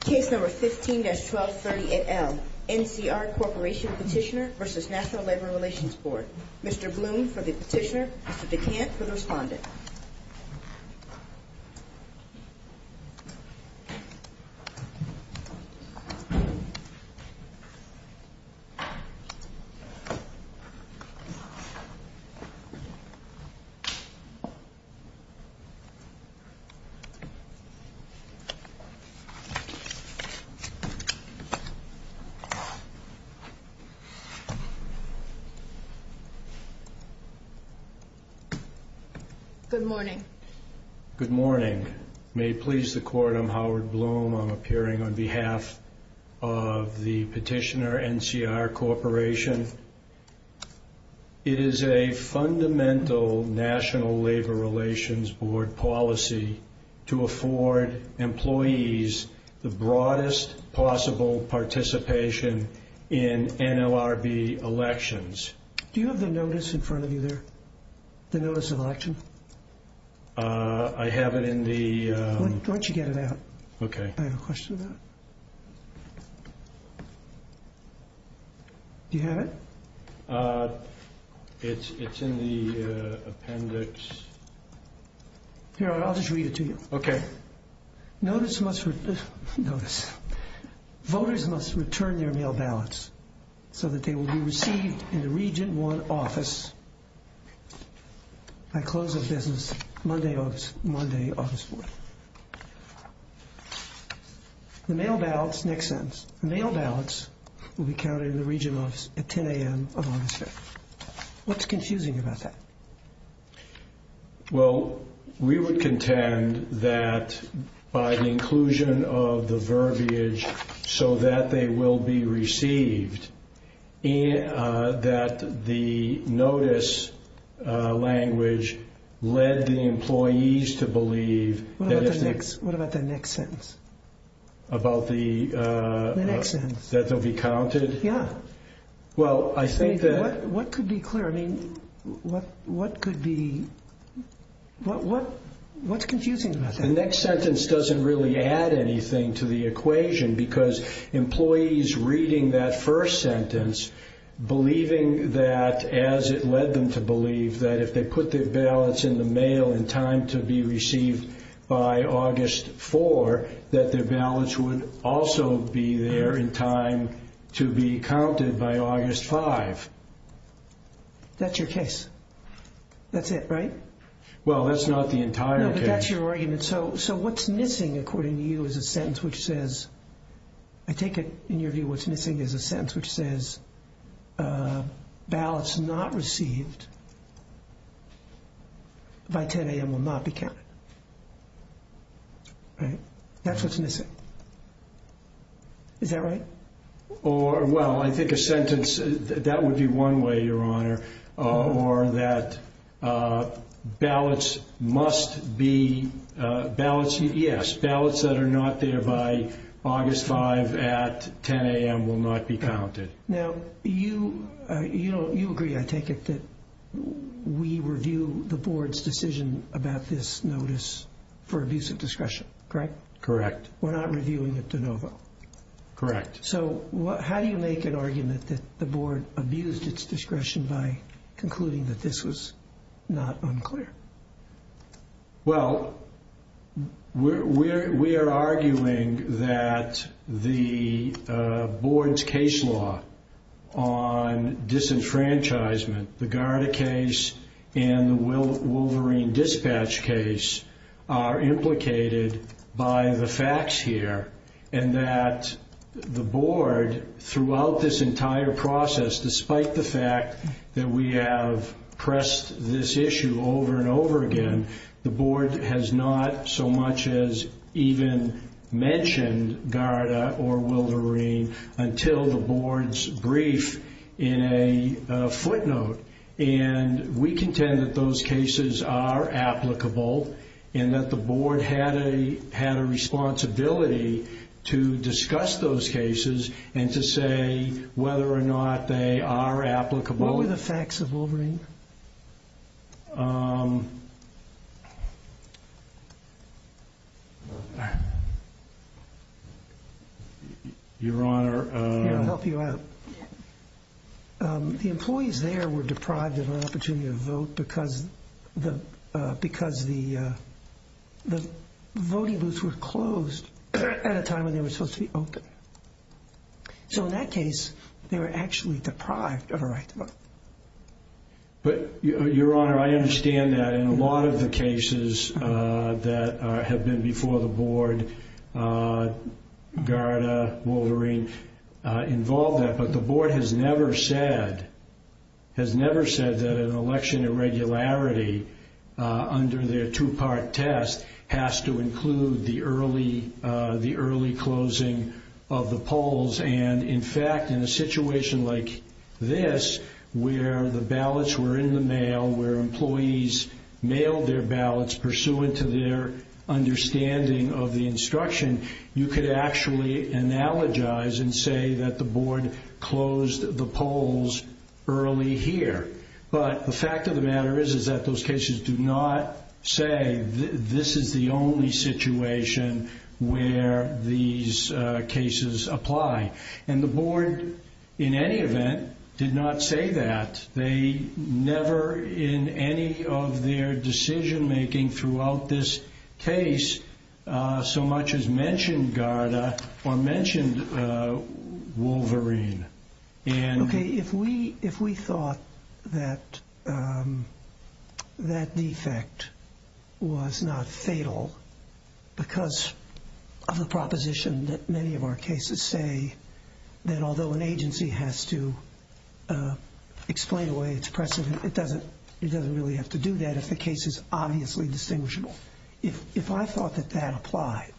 Case No. 15-1238L, NCR Corporation Petitioner v. National Labor Relations Board Mr. Bloom for the petitioner, Mr. DeCant for the respondent Good morning. Good morning. May it please the Court, I'm Howard Bloom. I'm appearing on behalf of the petitioner, NCR Corporation. It is a fundamental National Labor Relations Board policy to afford employees the broadest possible participation in NLRB elections. Do you have the notice in front of you there? The notice of election? I have it in the... Why don't you get it out? Okay. I have a question about it. Do you have it? It's in the appendix. Here, I'll just read it to you. Okay. Notice must... Notice. Voters must return their mail ballots so that they will be received in the Region 1 office by close of business Monday, August 1. The mail ballots... Next sentence. The mail ballots will be counted in the Region Office at 10 a.m. of August 5. What's confusing about that? Well, we would contend that by the inclusion of the verbiage, so that they will be received, that the notice language led the employees to believe... What about the next sentence? About the... The next sentence. Well, I think that... What could be clear? I mean, what could be... What's confusing about that? The next sentence doesn't really add anything to the equation because employees reading that first sentence, believing that as it led them to believe that if they put their ballots in the mail in time to be received by August 4, that their ballots would also be there in time to be counted by August 5. That's your case. That's it, right? Well, that's not the entire case. No, but that's your argument. So what's missing, according to you, is a sentence which says... I take it, in your view, what's missing is a sentence which says ballots not received by 10 a.m. will not be counted. Right? That's what's missing. Is that right? Well, I think a sentence... That would be one way, Your Honor, or that ballots must be... Ballots... Yes, ballots that are not there by August 5 at 10 a.m. will not be counted. Now, you agree, I take it, that we review the Board's decision about this notice for abuse of discretion, correct? Correct. We're not reviewing it de novo. Correct. So how do you make an argument that the Board abused its discretion by concluding that this was not unclear? Well, we are arguing that the Board's case law on disenfranchisement, the Garda case and the Wolverine Dispatch case, are implicated by the facts here, and that the Board, throughout this entire process, despite the fact that we have pressed this issue over and over again, the Board has not so much as even mentioned Garda or Wolverine until the Board's brief in a footnote. And we contend that those cases are applicable and that the Board had a responsibility to discuss those cases and to say whether or not they are applicable. What were the facts of Wolverine? Your Honor... Here, I'll help you out. The employees there were deprived of an opportunity to vote because the voting booths were closed at a time when they were supposed to be open. So in that case, they were actually deprived of a right to vote. But, Your Honor, I understand that in a lot of the cases that have been before the Board, Garda, Wolverine, involved that. But the Board has never said that an election irregularity under their two-part test has to include the early closing of the polls. And, in fact, in a situation like this, where the ballots were in the mail, where employees mailed their ballots pursuant to their understanding of the instruction, you could actually analogize and say that the Board closed the polls early here. But the fact of the matter is that those cases do not say this is the only situation where these cases apply. And the Board, in any event, did not say that. They never, in any of their decision-making throughout this case, so much as mentioned Garda or mentioned Wolverine. Okay, if we thought that that defect was not fatal because of the proposition that many of our cases say that although an agency has to explain away its precedent, it doesn't really have to do that if the case is obviously distinguishable. If I thought that that applied,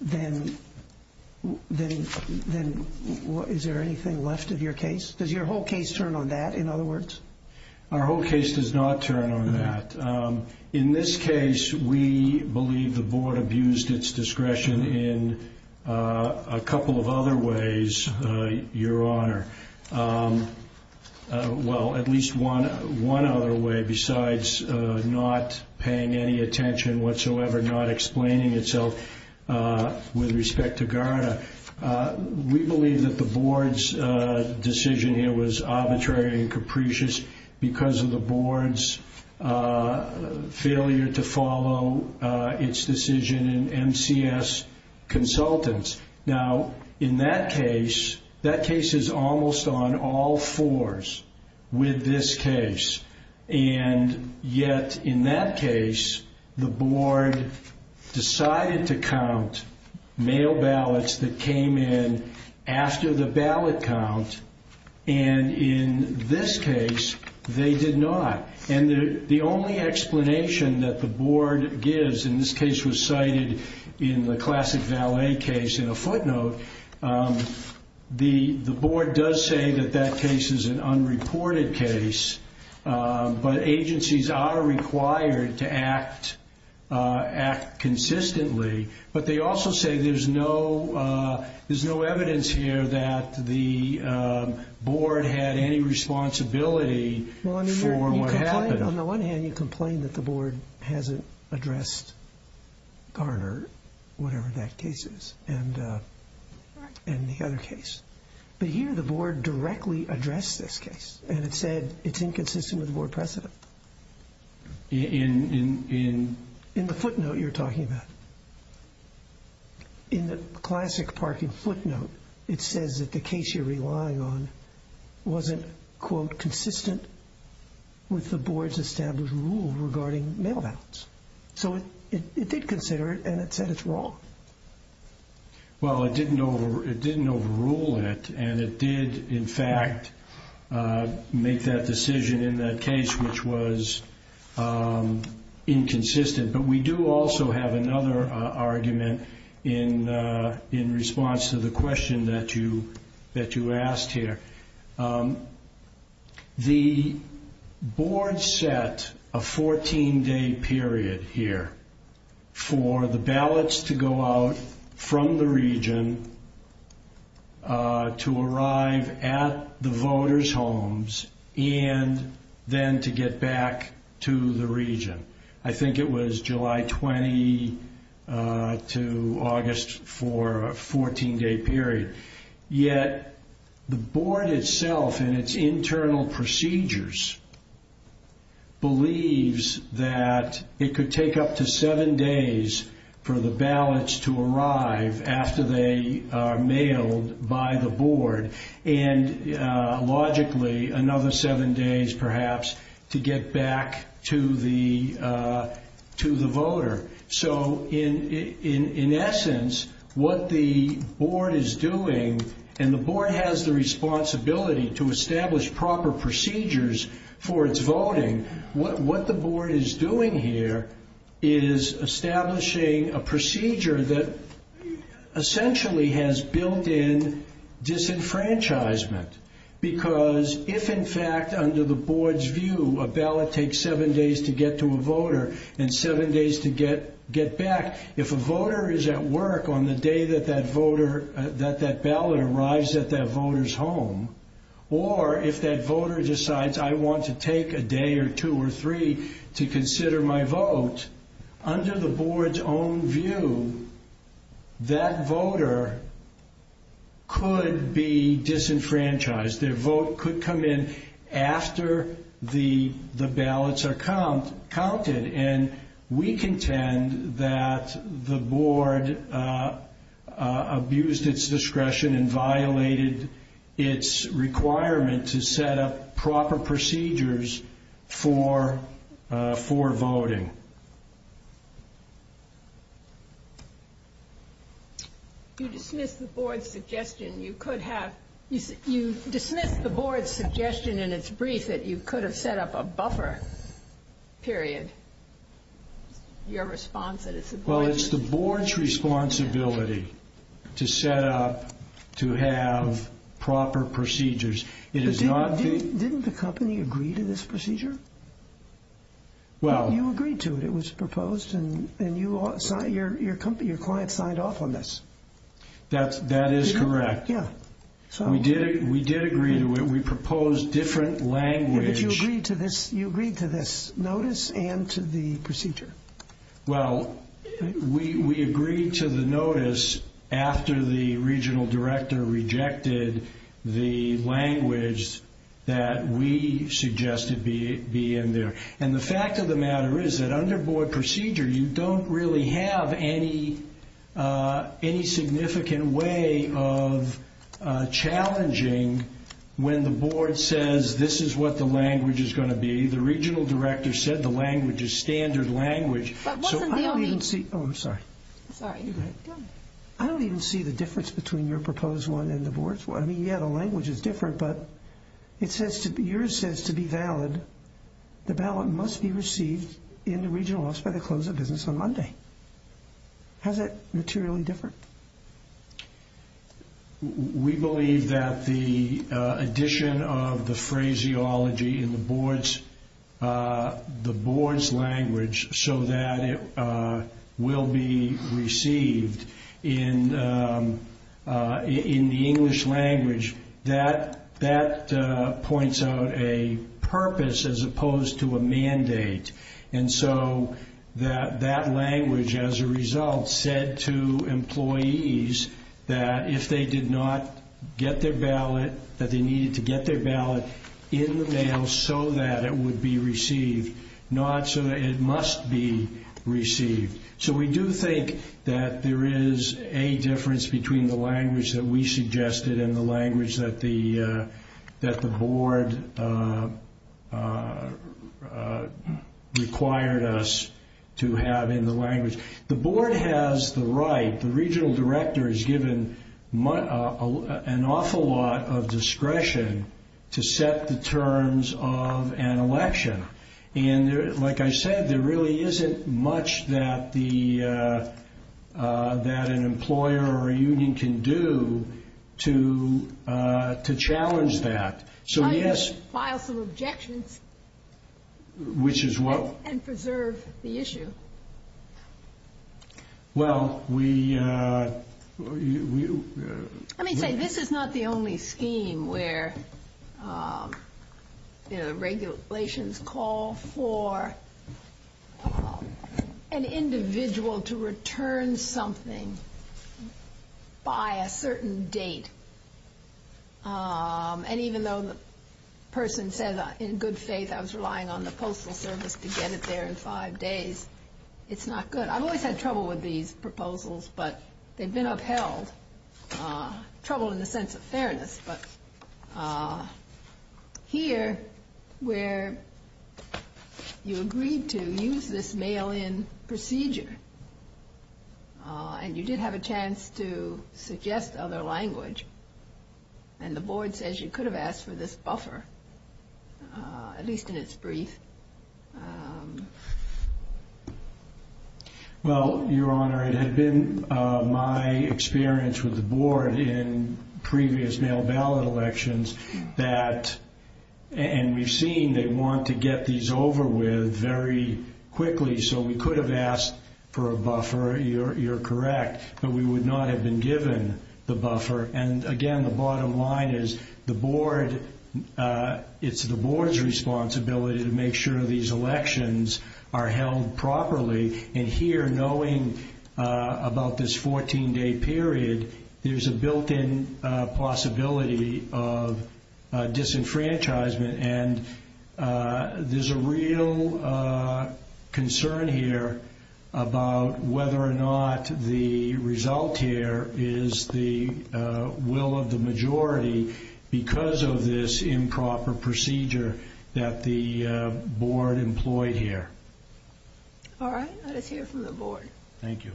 then is there anything left of your case? Does your whole case turn on that, in other words? Our whole case does not turn on that. In this case, we believe the Board abused its discretion in a couple of other ways, Your Honor. Well, at least one other way besides not paying any attention whatsoever, not explaining itself with respect to Garda. We believe that the Board's decision here was arbitrary and capricious because of the Board's failure to follow its decision in MCS Consultants. Now, in that case, that case is almost on all fours with this case. And yet, in that case, the Board decided to count mail ballots that came in after the ballot count. And in this case, they did not. And the only explanation that the Board gives, and this case was cited in the Classic Valet case in a footnote, the Board does say that that case is an unreported case. But agencies are required to act consistently. But they also say there's no evidence here that the Board had any responsibility for what happened. On the one hand, you complain that the Board hasn't addressed Garda, whatever that case is, and the other case. But here, the Board directly addressed this case, and it said it's inconsistent with the Board precedent. In the footnote you're talking about, in the Classic Parking footnote, it says that the case you're relying on wasn't, quote, consistent with the Board's established rule regarding mail ballots. So it did consider it, and it said it's wrong. Well, it didn't overrule it, and it did, in fact, make that decision in that case, which was inconsistent. But we do also have another argument in response to the question that you asked here. The Board set a 14-day period here for the ballots to go out from the region, to arrive at the voters' homes, and then to get back to the region. I think it was July 20 to August for a 14-day period. Yet, the Board itself, in its internal procedures, believes that it could take up to seven days for the ballots to arrive after they are mailed by the Board, and logically, another seven days, perhaps, to get back to the voter. So, in essence, what the Board is doing, and the Board has the responsibility to establish proper procedures for its voting, what the Board is doing here is establishing a procedure that essentially has built-in disenfranchisement. Because if, in fact, under the Board's view, a ballot takes seven days to get to a voter and seven days to get back, if a voter is at work on the day that that ballot arrives at that voter's home, or if that voter decides, I want to take a day or two or three to consider my vote, under the Board's own view, that voter could be disenfranchised. Their vote could come in after the ballots are counted, and we contend that the Board abused its discretion and violated its requirement to set up proper procedures for voting. You dismissed the Board's suggestion in its brief that you could have set up a buffer, period. Your response is that it's the Board's responsibility to set up, to have proper procedures. Didn't the company agree to this procedure? You agreed to it. It was proposed, and your client signed off on this. That is correct. We did agree to it. We proposed different language. But you agreed to this notice and to the procedure. Well, we agreed to the notice after the Regional Director rejected the language that we suggested be in there. And the fact of the matter is that under Board procedure, you don't really have any significant way of challenging when the Board says this is what the language is going to be. The Regional Director said the language is standard language. I don't even see the difference between your proposed one and the Board's one. I mean, yeah, the language is different, but yours says to be valid, the ballot must be received in the Regional Office by the close of business on Monday. How is that materially different? We believe that the addition of the phraseology in the Board's language so that it will be received in the English language, that points out a purpose as opposed to a mandate. And so that language, as a result, said to employees that if they did not get their ballot, that they needed to get their ballot in the mail so that it would be received, not so that it must be received. So we do think that there is a difference between the language that we suggested and the language that the Board required us to have in the language. The Board has the right, the Regional Director is given an awful lot of discretion to set the terms of an election. And like I said, there really isn't much that an employer or a union can do to challenge that. So yes. File some objections. Which is what? And preserve the issue. Well, we... Let me say, this is not the only scheme where regulations call for an individual to return something by a certain date. And even though the person said, in good faith, I was relying on the Postal Service to get it there in five days, it's not good. I've always had trouble with these proposals, but they've been upheld. Trouble in the sense of fairness. But here, where you agreed to use this mail-in procedure, and you did have a chance to suggest other language, and the Board says you could have asked for this buffer, at least in its brief. Well, Your Honor, it had been my experience with the Board in previous mail ballot elections that, and we've seen they want to get these over with very quickly. So we could have asked for a buffer. You're correct. But we would not have been given the buffer. And again, the bottom line is, it's the Board's responsibility to make sure these elections are held properly. And here, knowing about this 14-day period, there's a built-in possibility of disenfranchisement, and there's a real concern here about whether or not the result here is the will of the majority because of this improper procedure that the Board employed here. All right. Let us hear from the Board. Thank you.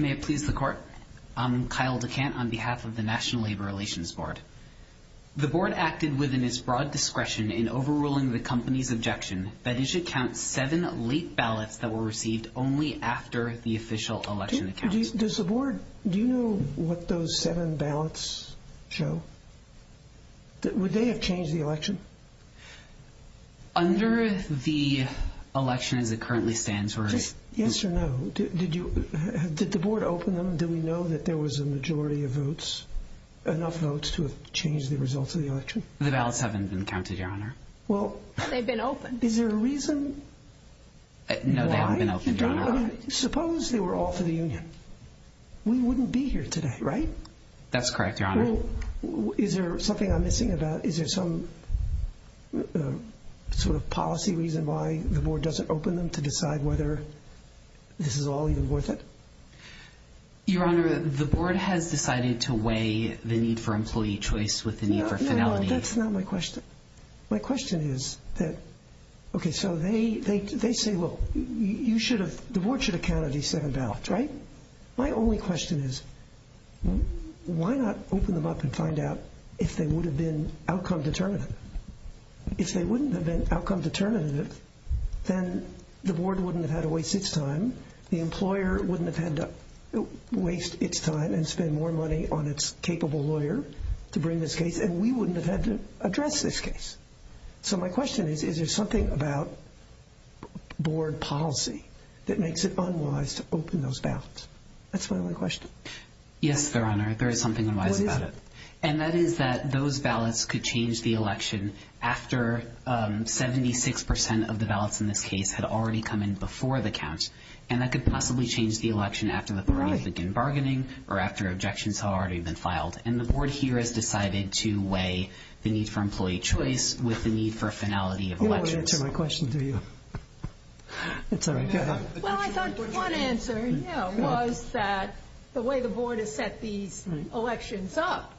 May it please the Court? I'm Kyle DeCant on behalf of the National Labor Relations Board. The Board acted within its broad discretion in overruling the company's objection that it should count seven late ballots that were received only after the official election accounts. Does the Board, do you know what those seven ballots show? Would they have changed the election? Under the election as it currently stands, we're... Yes or no? Did the Board open them? Do we know that there was a majority of votes, enough votes to have changed the results of the election? The ballots haven't been counted, Your Honor. Well... They've been opened. Is there a reason why? No, they haven't been opened, Your Honor. Suppose they were all for the union. We wouldn't be here today, right? That's correct, Your Honor. Well, is there something I'm missing about, is there some sort of policy reason why the Board doesn't open them to decide whether this is all even worth it? Your Honor, the Board has decided to weigh the need for employee choice with the need for finality. No, that's not my question. My question is that, okay, so they say, well, you should have, the Board should have counted these seven ballots, right? My only question is, why not open them up and find out if they would have been outcome determinative? If they wouldn't have been outcome determinative, then the Board wouldn't have had to waste its time, the employer wouldn't have had to waste its time and spend more money on its capable lawyer to bring this case, and we wouldn't have had to address this case. So my question is, is there something about Board policy that makes it unwise to open those ballots? That's my only question. Yes, Your Honor, there is something unwise about it. What is it? And that is that those ballots could change the election after 76% of the ballots in this case had already come in before the count. And that could possibly change the election after the Board begins bargaining or after objections have already been filed. And the Board here has decided to weigh the need for employee choice with the need for finality of elections. You don't want to answer my question, do you? It's all right. Well, I thought one answer was that the way the Board has set these elections up,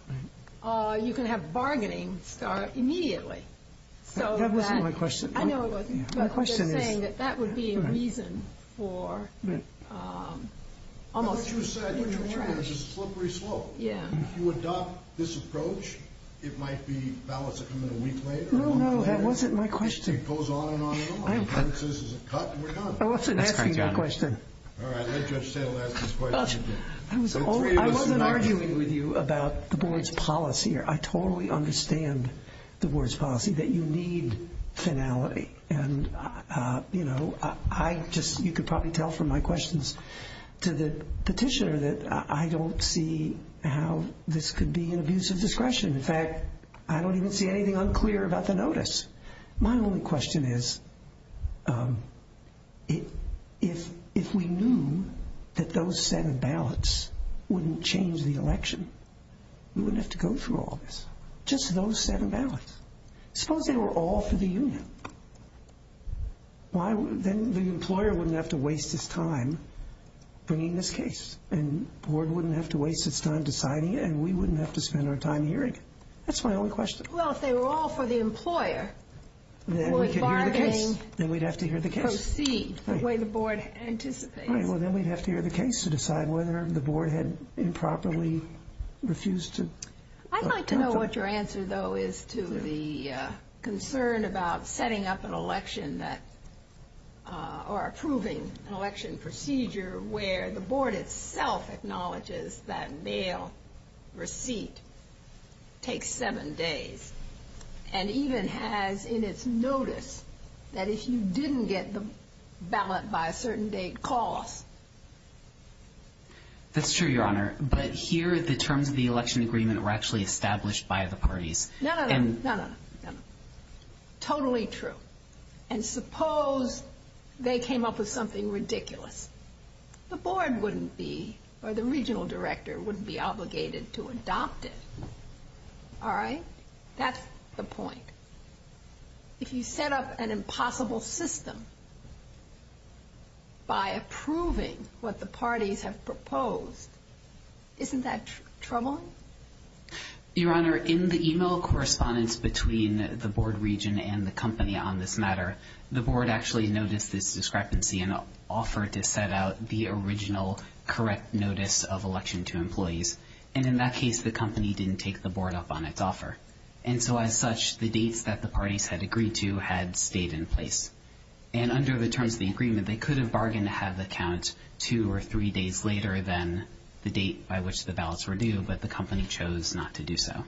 you can have bargaining start immediately. That wasn't my question. I know it wasn't, but they're saying that that would be a reason for almost... It's a slippery slope. Yeah. If you adopt this approach, it might be ballots that come in a week later. No, no, that wasn't my question. It goes on and on and on. If it says it's a cut, we're done. I wasn't asking that question. All right, let Judge Taylor ask his question again. I wasn't arguing with you about the Board's policy. I totally understand the Board's policy, that you need finality. You could probably tell from my questions to the petitioner that I don't see how this could be an abuse of discretion. In fact, I don't even see anything unclear about the notice. My only question is, if we knew that those seven ballots wouldn't change the election, we wouldn't have to go through all this. Just those seven ballots. Suppose they were all for the union. Then the employer wouldn't have to waste his time bringing this case, and the Board wouldn't have to waste its time deciding it, and we wouldn't have to spend our time hearing it. That's my only question. Well, if they were all for the employer, would bargaining proceed the way the Board anticipates? Well, then we'd have to hear the case to decide whether the Board had improperly refused to... I'd like to know what your answer, though, is to the concern about setting up an election that, or approving an election procedure where the Board itself acknowledges that mail receipt takes seven days, and even has in its notice that if you didn't get the ballot by a certain date, call us. That's true, Your Honor, but here the terms of the election agreement were actually established by the parties. No, no, no. Totally true. And suppose they came up with something ridiculous. The Board wouldn't be, or the regional director wouldn't be obligated to adopt it. All right? That's the point. If you set up an impossible system by approving what the parties have proposed, isn't that troubling? Your Honor, in the email correspondence between the Board region and the company on this matter, the Board actually noticed this discrepancy and offered to set out the original correct notice of election to employees. And in that case, the company didn't take the Board up on its offer. And so as such, the dates that the parties had agreed to had stayed in place. And under the terms of the agreement, they could have bargained to have it count two or three days later than the date by which the ballots were due, but the company chose not to do so.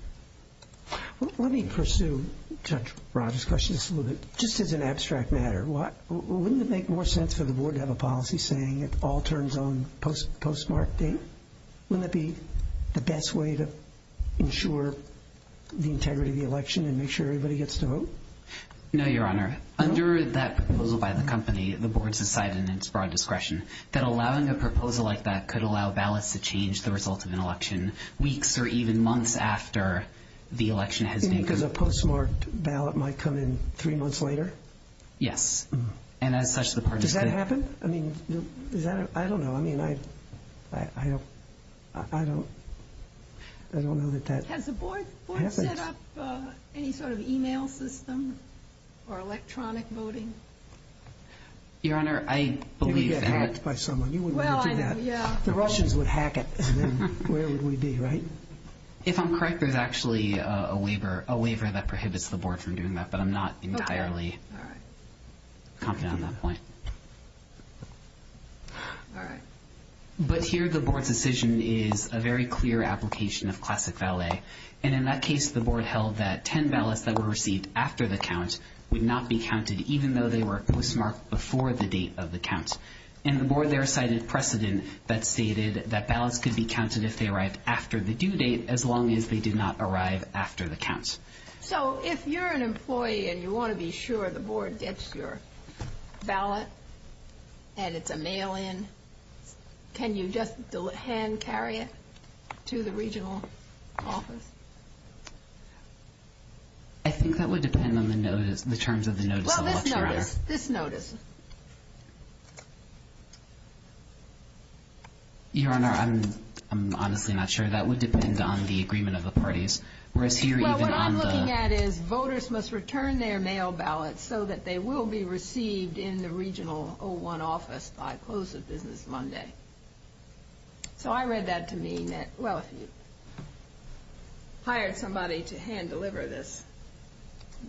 Let me pursue Judge Rogers' question just a little bit, just as an abstract matter. Wouldn't it make more sense for the Board to have a policy saying it all turns on postmark date? Wouldn't that be the best way to ensure the integrity of the election and make sure everybody gets to vote? No, Your Honor. Under that proposal by the company, the Board's decided in its broad discretion that allowing a proposal like that could allow ballots to change the result of an election weeks or even months after the election has been. You mean because a postmarked ballot might come in three months later? Yes. And as such, the parties could. Has that happened? I mean, I don't know. I mean, I don't know that that happens. Has the Board set up any sort of e-mail system or electronic voting? Your Honor, I believe that— You would get hacked by someone. You wouldn't want to do that. The Russians would hack it, and then where would we be, right? If I'm correct, there's actually a waiver that prohibits the Board from doing that, but I'm not entirely confident on that point. All right. But here, the Board's decision is a very clear application of classic valet, and in that case, the Board held that 10 ballots that were received after the count would not be counted, even though they were postmarked before the date of the count. And the Board there cited precedent that stated that ballots could be counted if they arrived after the due date, as long as they did not arrive after the count. So if you're an employee and you want to be sure the Board gets your ballot and it's a mail-in, can you just hand-carry it to the regional office? I think that would depend on the terms of the notice of election. Well, this notice. This notice. Your Honor, I'm honestly not sure. That would depend on the agreement of the parties. Well, what I'm looking at is voters must return their mail ballots so that they will be received in the regional O1 office by close of business Monday. So I read that to mean that, well, if you hired somebody to hand-deliver this,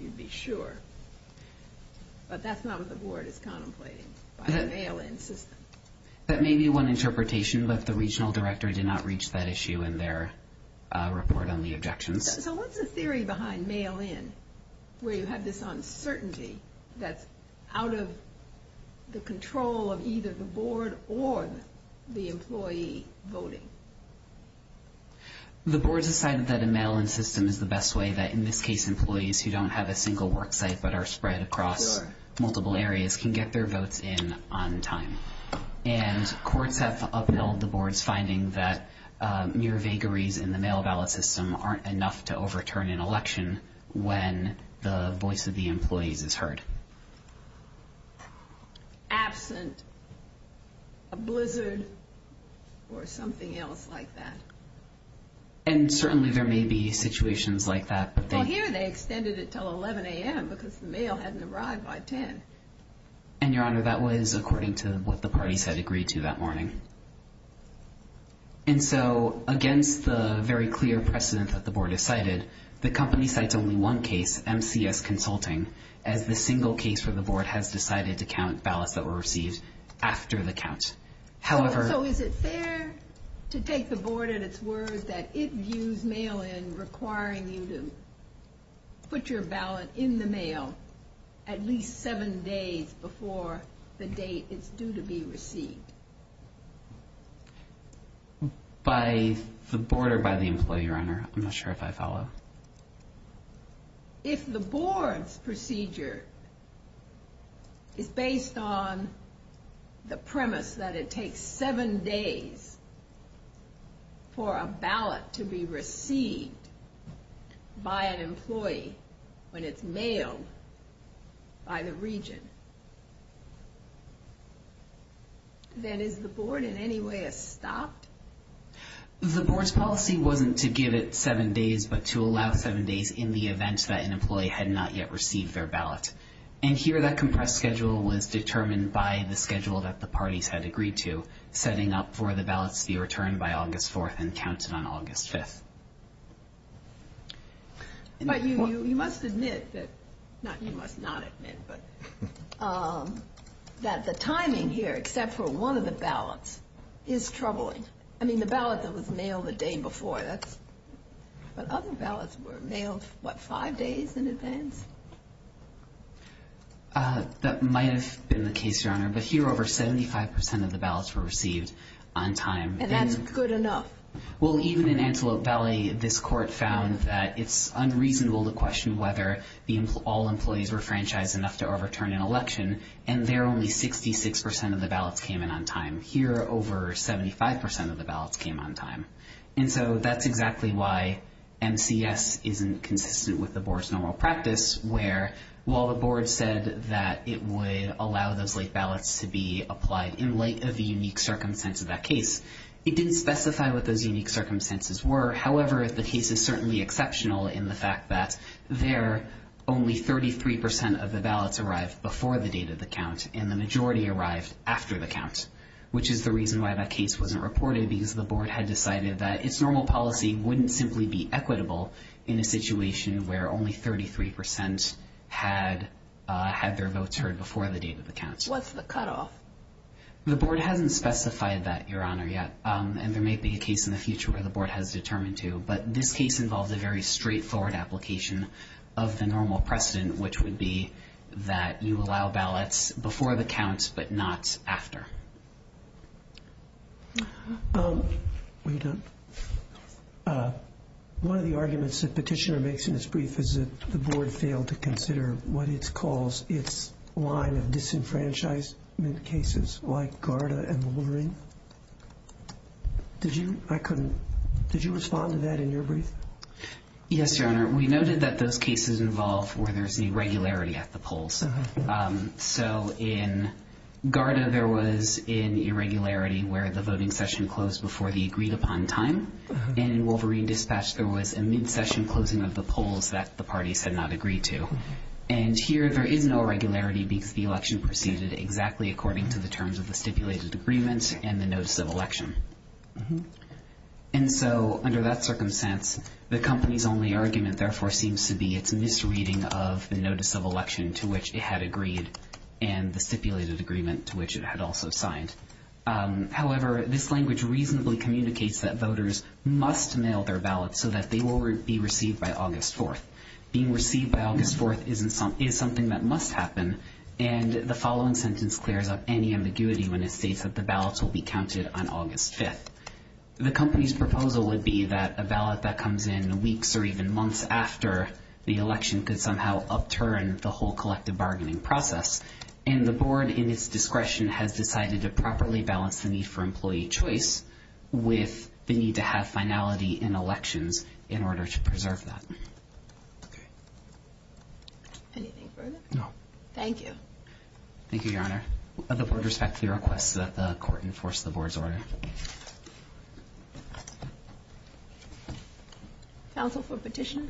you'd be sure. But that's not what the Board is contemplating by the mail-in system. That may be one interpretation, but the regional director did not reach that issue in their report on the objections. So what's the theory behind mail-in, where you have this uncertainty that's out of the control of either the Board or the employee voting? The Board decided that a mail-in system is the best way that, in this case, employees who don't have a single work site but are spread across multiple areas can get their votes in on time. And courts have upheld the Board's finding that mere vagaries in the mail-in ballot system aren't enough to overturn an election when the voice of the employees is heard. Absent, a blizzard, or something else like that. And certainly there may be situations like that. Well, here they extended it until 11 a.m. because the mail hadn't arrived by 10. And, Your Honor, that was according to what the parties had agreed to that morning. And so against the very clear precedent that the Board has cited, the company cites only one case, MCS Consulting, as the single case where the Board has decided to count ballots that were received after the count. So is it fair to take the Board at its word that it views mail-in requiring you to put your ballot in the mail at least seven days before the date it's due to be received? By the Board or by the employee, Your Honor? I'm not sure if I follow. If the Board's procedure is based on the premise that it takes seven days for a ballot to be received by an employee when it's mailed by the region, then is the Board in any way stopped? The Board's policy wasn't to give it seven days, but to allow seven days in the event that an employee had not yet received their ballot. And here that compressed schedule was determined by the schedule that the parties had agreed to, setting up for the ballots to be returned by August 4th and counted on August 5th. But you must admit that the timing here, except for one of the ballots, is troubling. I mean, the ballot that was mailed the day before. But other ballots were mailed, what, five days in advance? That might have been the case, Your Honor, but here over 75% of the ballots were received on time. And that's good enough? Well, even in Antelope Valley, this court found that it's unreasonable to question whether all employees were franchised enough to overturn an election, and there only 66% of the ballots came in on time. Here, over 75% of the ballots came on time. And so that's exactly why MCS isn't consistent with the Board's normal practice, where while the Board said that it would allow those late ballots to be applied in light of the unique circumstances of that case, it didn't specify what those unique circumstances were. However, the case is certainly exceptional in the fact that there, only 33% of the ballots arrived before the date of the count, and the majority arrived after the count, which is the reason why that case wasn't reported, because the Board had decided that its normal policy wouldn't simply be equitable in a situation where only 33% had their votes heard before the date of the count. What's the cutoff? The Board hasn't specified that, Your Honor, yet, and there may be a case in the future where the Board has determined to. But this case involved a very straightforward application of the normal precedent, which would be that you allow ballots before the count, but not after. One of the arguments that Petitioner makes in his brief is that the Board failed to consider what it calls its line of disenfranchisement cases, like Garda and Wolverine. Did you respond to that in your brief? Yes, Your Honor. We noted that those cases involved where there's an irregularity at the polls. So in Garda, there was an irregularity where the voting session closed before the agreed-upon time, and in Wolverine Dispatch, there was a mid-session closing of the polls that the parties had not agreed to. And here, there is no irregularity because the election proceeded exactly according to the terms of the stipulated agreement and the notice of election. And so under that circumstance, the company's only argument, therefore, seems to be its misreading of the notice of election to which it had agreed and the stipulated agreement to which it had also signed. However, this language reasonably communicates that voters must mail their ballots so that they will be received by August 4th. Being received by August 4th is something that must happen, and the following sentence clears up any ambiguity when it states that the ballots will be counted on August 5th. The company's proposal would be that a ballot that comes in weeks or even months after the election could somehow upturn the whole collective bargaining process, and the board, in its discretion, has decided to properly balance the need for employee choice with the need to have finality in elections in order to preserve that. Okay. Anything further? No. Thank you. Thank you, Your Honor. The board respectfully requests that the court enforce the board's order. Counsel for petition?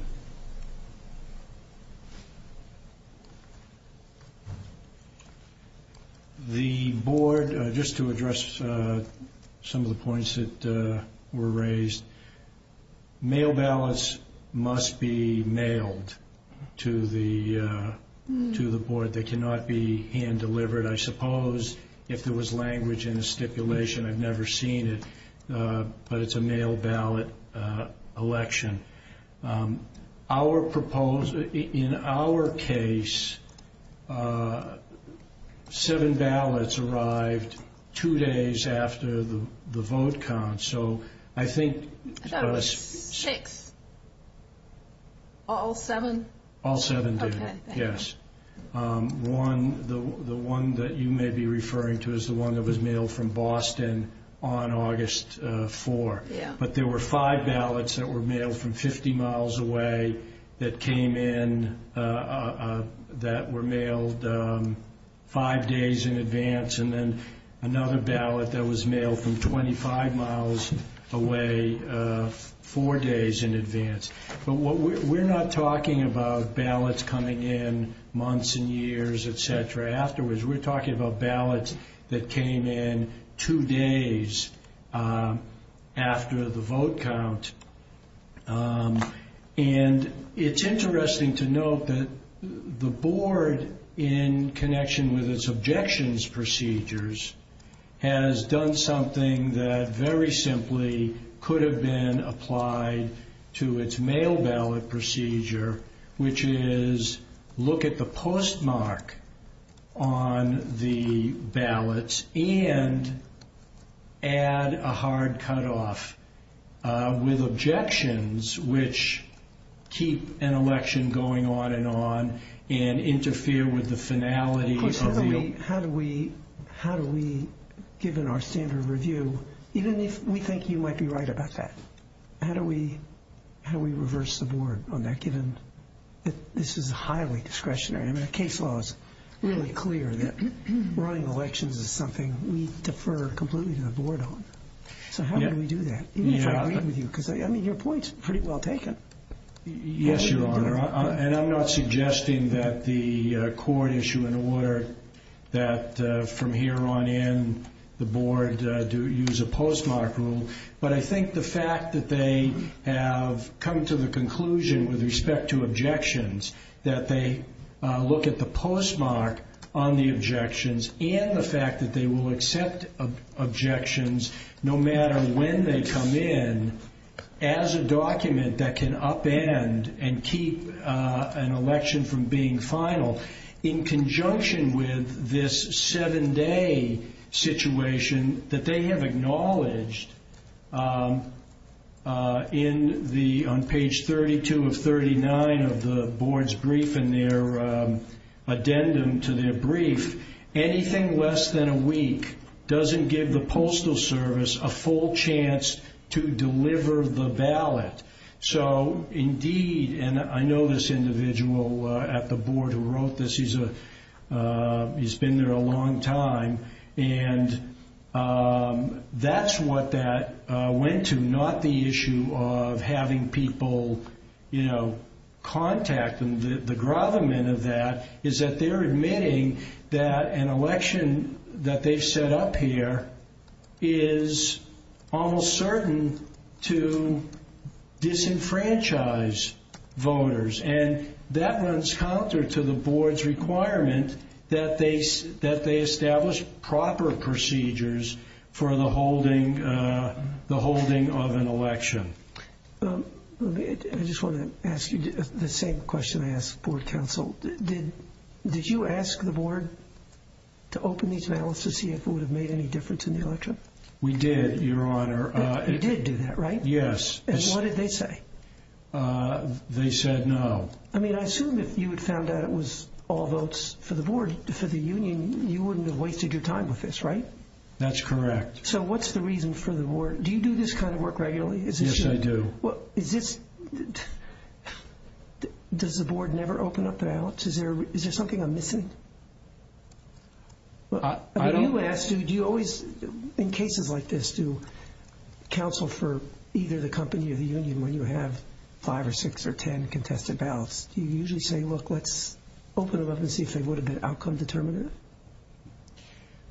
The board, just to address some of the points that were raised, mail ballots must be mailed to the board. They cannot be hand-delivered. I suppose if there was language in the stipulation, I've never seen it, but it's a mail ballot election. In our case, seven ballots arrived two days after the vote count, so I think six. All seven? All seven did, yes. The one that you may be referring to is the one that was mailed from Boston on August 4th, but there were five ballots that were mailed from 50 miles away that came in that were mailed five days in advance, and then another ballot that was mailed from 25 miles away four days in advance. But we're not talking about ballots coming in months and years, et cetera, afterwards. We're talking about ballots that came in two days after the vote count. And it's interesting to note that the board, in connection with its objections procedures, has done something that very simply could have been applied to its mail ballot procedure, which is look at the postmark on the ballots and add a hard cutoff with objections, which keep an election going on and on and interfere with the finality of the election. Of course, how do we, given our standard of review, even if we think you might be right about that, how do we reverse the board on that, given that this is highly discretionary? I mean, the case law is really clear that running elections is something we defer completely to the board on. So how do we do that, even if I agree with you? Because, I mean, your point is pretty well taken. Yes, Your Honor, and I'm not suggesting that the court issue an order that, from here on in, the board use a postmark rule. But I think the fact that they have come to the conclusion, with respect to objections, that they look at the postmark on the objections and the fact that they will accept objections, no matter when they come in, as a document that can upend and keep an election from being final, in conjunction with this seven-day situation that they have acknowledged on page 32 of 39 of the board's brief and their addendum to their brief, anything less than a week doesn't give the Postal Service a full chance to deliver the ballot. So, indeed, and I know this individual at the board who wrote this, he's been there a long time, and that's what that went to, not the issue of having people, you know, contact them. The grovelment of that is that they're admitting that an election that they've set up here is almost certain to disenfranchise voters, and that runs counter to the board's requirement that they establish proper procedures for the holding of an election. I just want to ask you the same question I asked the board counsel. Did you ask the board to open these ballots to see if it would have made any difference in the election? We did, Your Honor. You did do that, right? Yes. And what did they say? They said no. I mean, I assume if you had found out it was all votes for the board, for the union, you wouldn't have wasted your time with this, right? That's correct. So what's the reason for the board? Do you do this kind of work regularly? Yes, I do. Does the board never open up the ballots? Is there something I'm missing? You ask, do you always, in cases like this, do counsel for either the company or the union, when you have five or six or ten contested ballots, do you usually say, look, let's open them up and see if they would have been outcome determinative?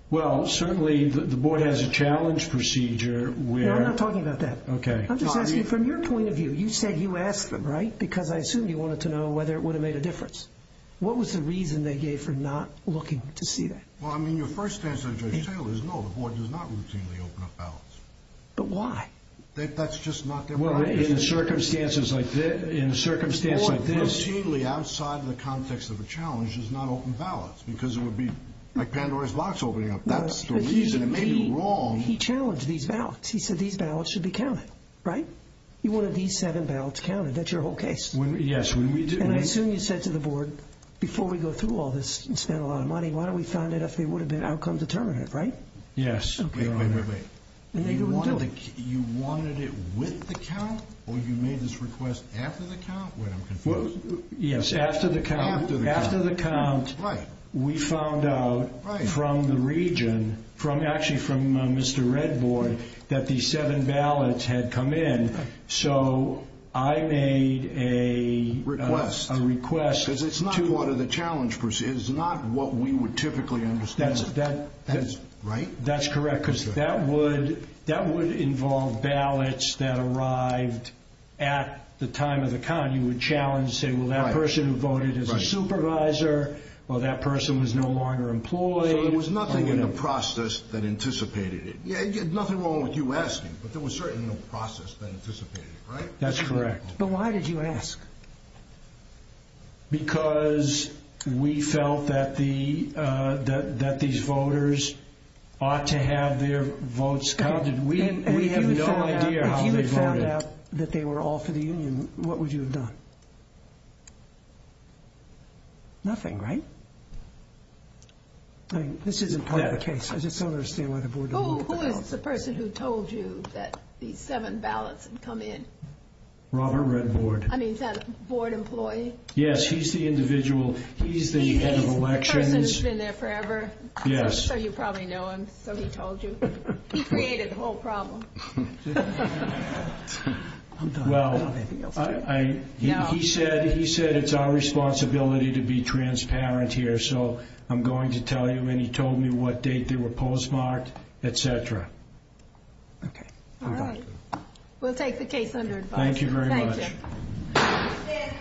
Well, certainly the board has a challenge procedure. No, I'm not talking about that. Okay. I'm just asking from your point of view. You said you asked them, right? Because I assume you wanted to know whether it would have made a difference. What was the reason they gave for not looking to see that? Well, I mean, your first answer, Judge Taylor, is no, the board does not routinely open up ballots. But why? That's just not their priority. Well, in circumstances like this. The board routinely, outside the context of a challenge, does not open ballots because it would be like Pandora's box opening up. That's the reason. It may be wrong. He challenged these ballots. He said these ballots should be counted. Right? You wanted these seven ballots counted. That's your whole case. Yes. And I assume you said to the board, before we go through all this and spend a lot of money, why don't we find out if they would have been outcome determinative, right? Yes. Wait, wait, wait. You wanted it with the count? Or you made this request after the count? Wait, I'm confused. Yes, after the count. After the count. Right. We found out from the region, actually from Mr. Red Board, that these seven ballots had come in. So I made a request. Because it's not part of the challenge. It's not what we would typically understand. Right? That's correct. Because that would involve ballots that arrived at the time of the count. You would challenge, say, well, that person who voted is a supervisor. Well, that person was no longer employed. So there was nothing in the process that anticipated it. Nothing wrong with you asking, but there was certainly no process that anticipated it. Right? That's correct. But why did you ask? Because we felt that these voters ought to have their votes counted. We have no idea how they voted. If you found out that they were all for the union, what would you have done? Nothing, right? This isn't part of the case. I just don't understand why the board didn't vote. Who is the person who told you that these seven ballots had come in? Robert Red Board. I mean, is that a board employee? Yes, he's the individual. He's the head of elections. The person who's been there forever? Yes. So you probably know him. So he told you. He created the whole problem. Well, he said it's our responsibility to be transparent here. So I'm going to tell you. And he told me what date they were postmarked, et cetera. Okay. All right. We'll take the case under advice. Thank you very much. Thank you.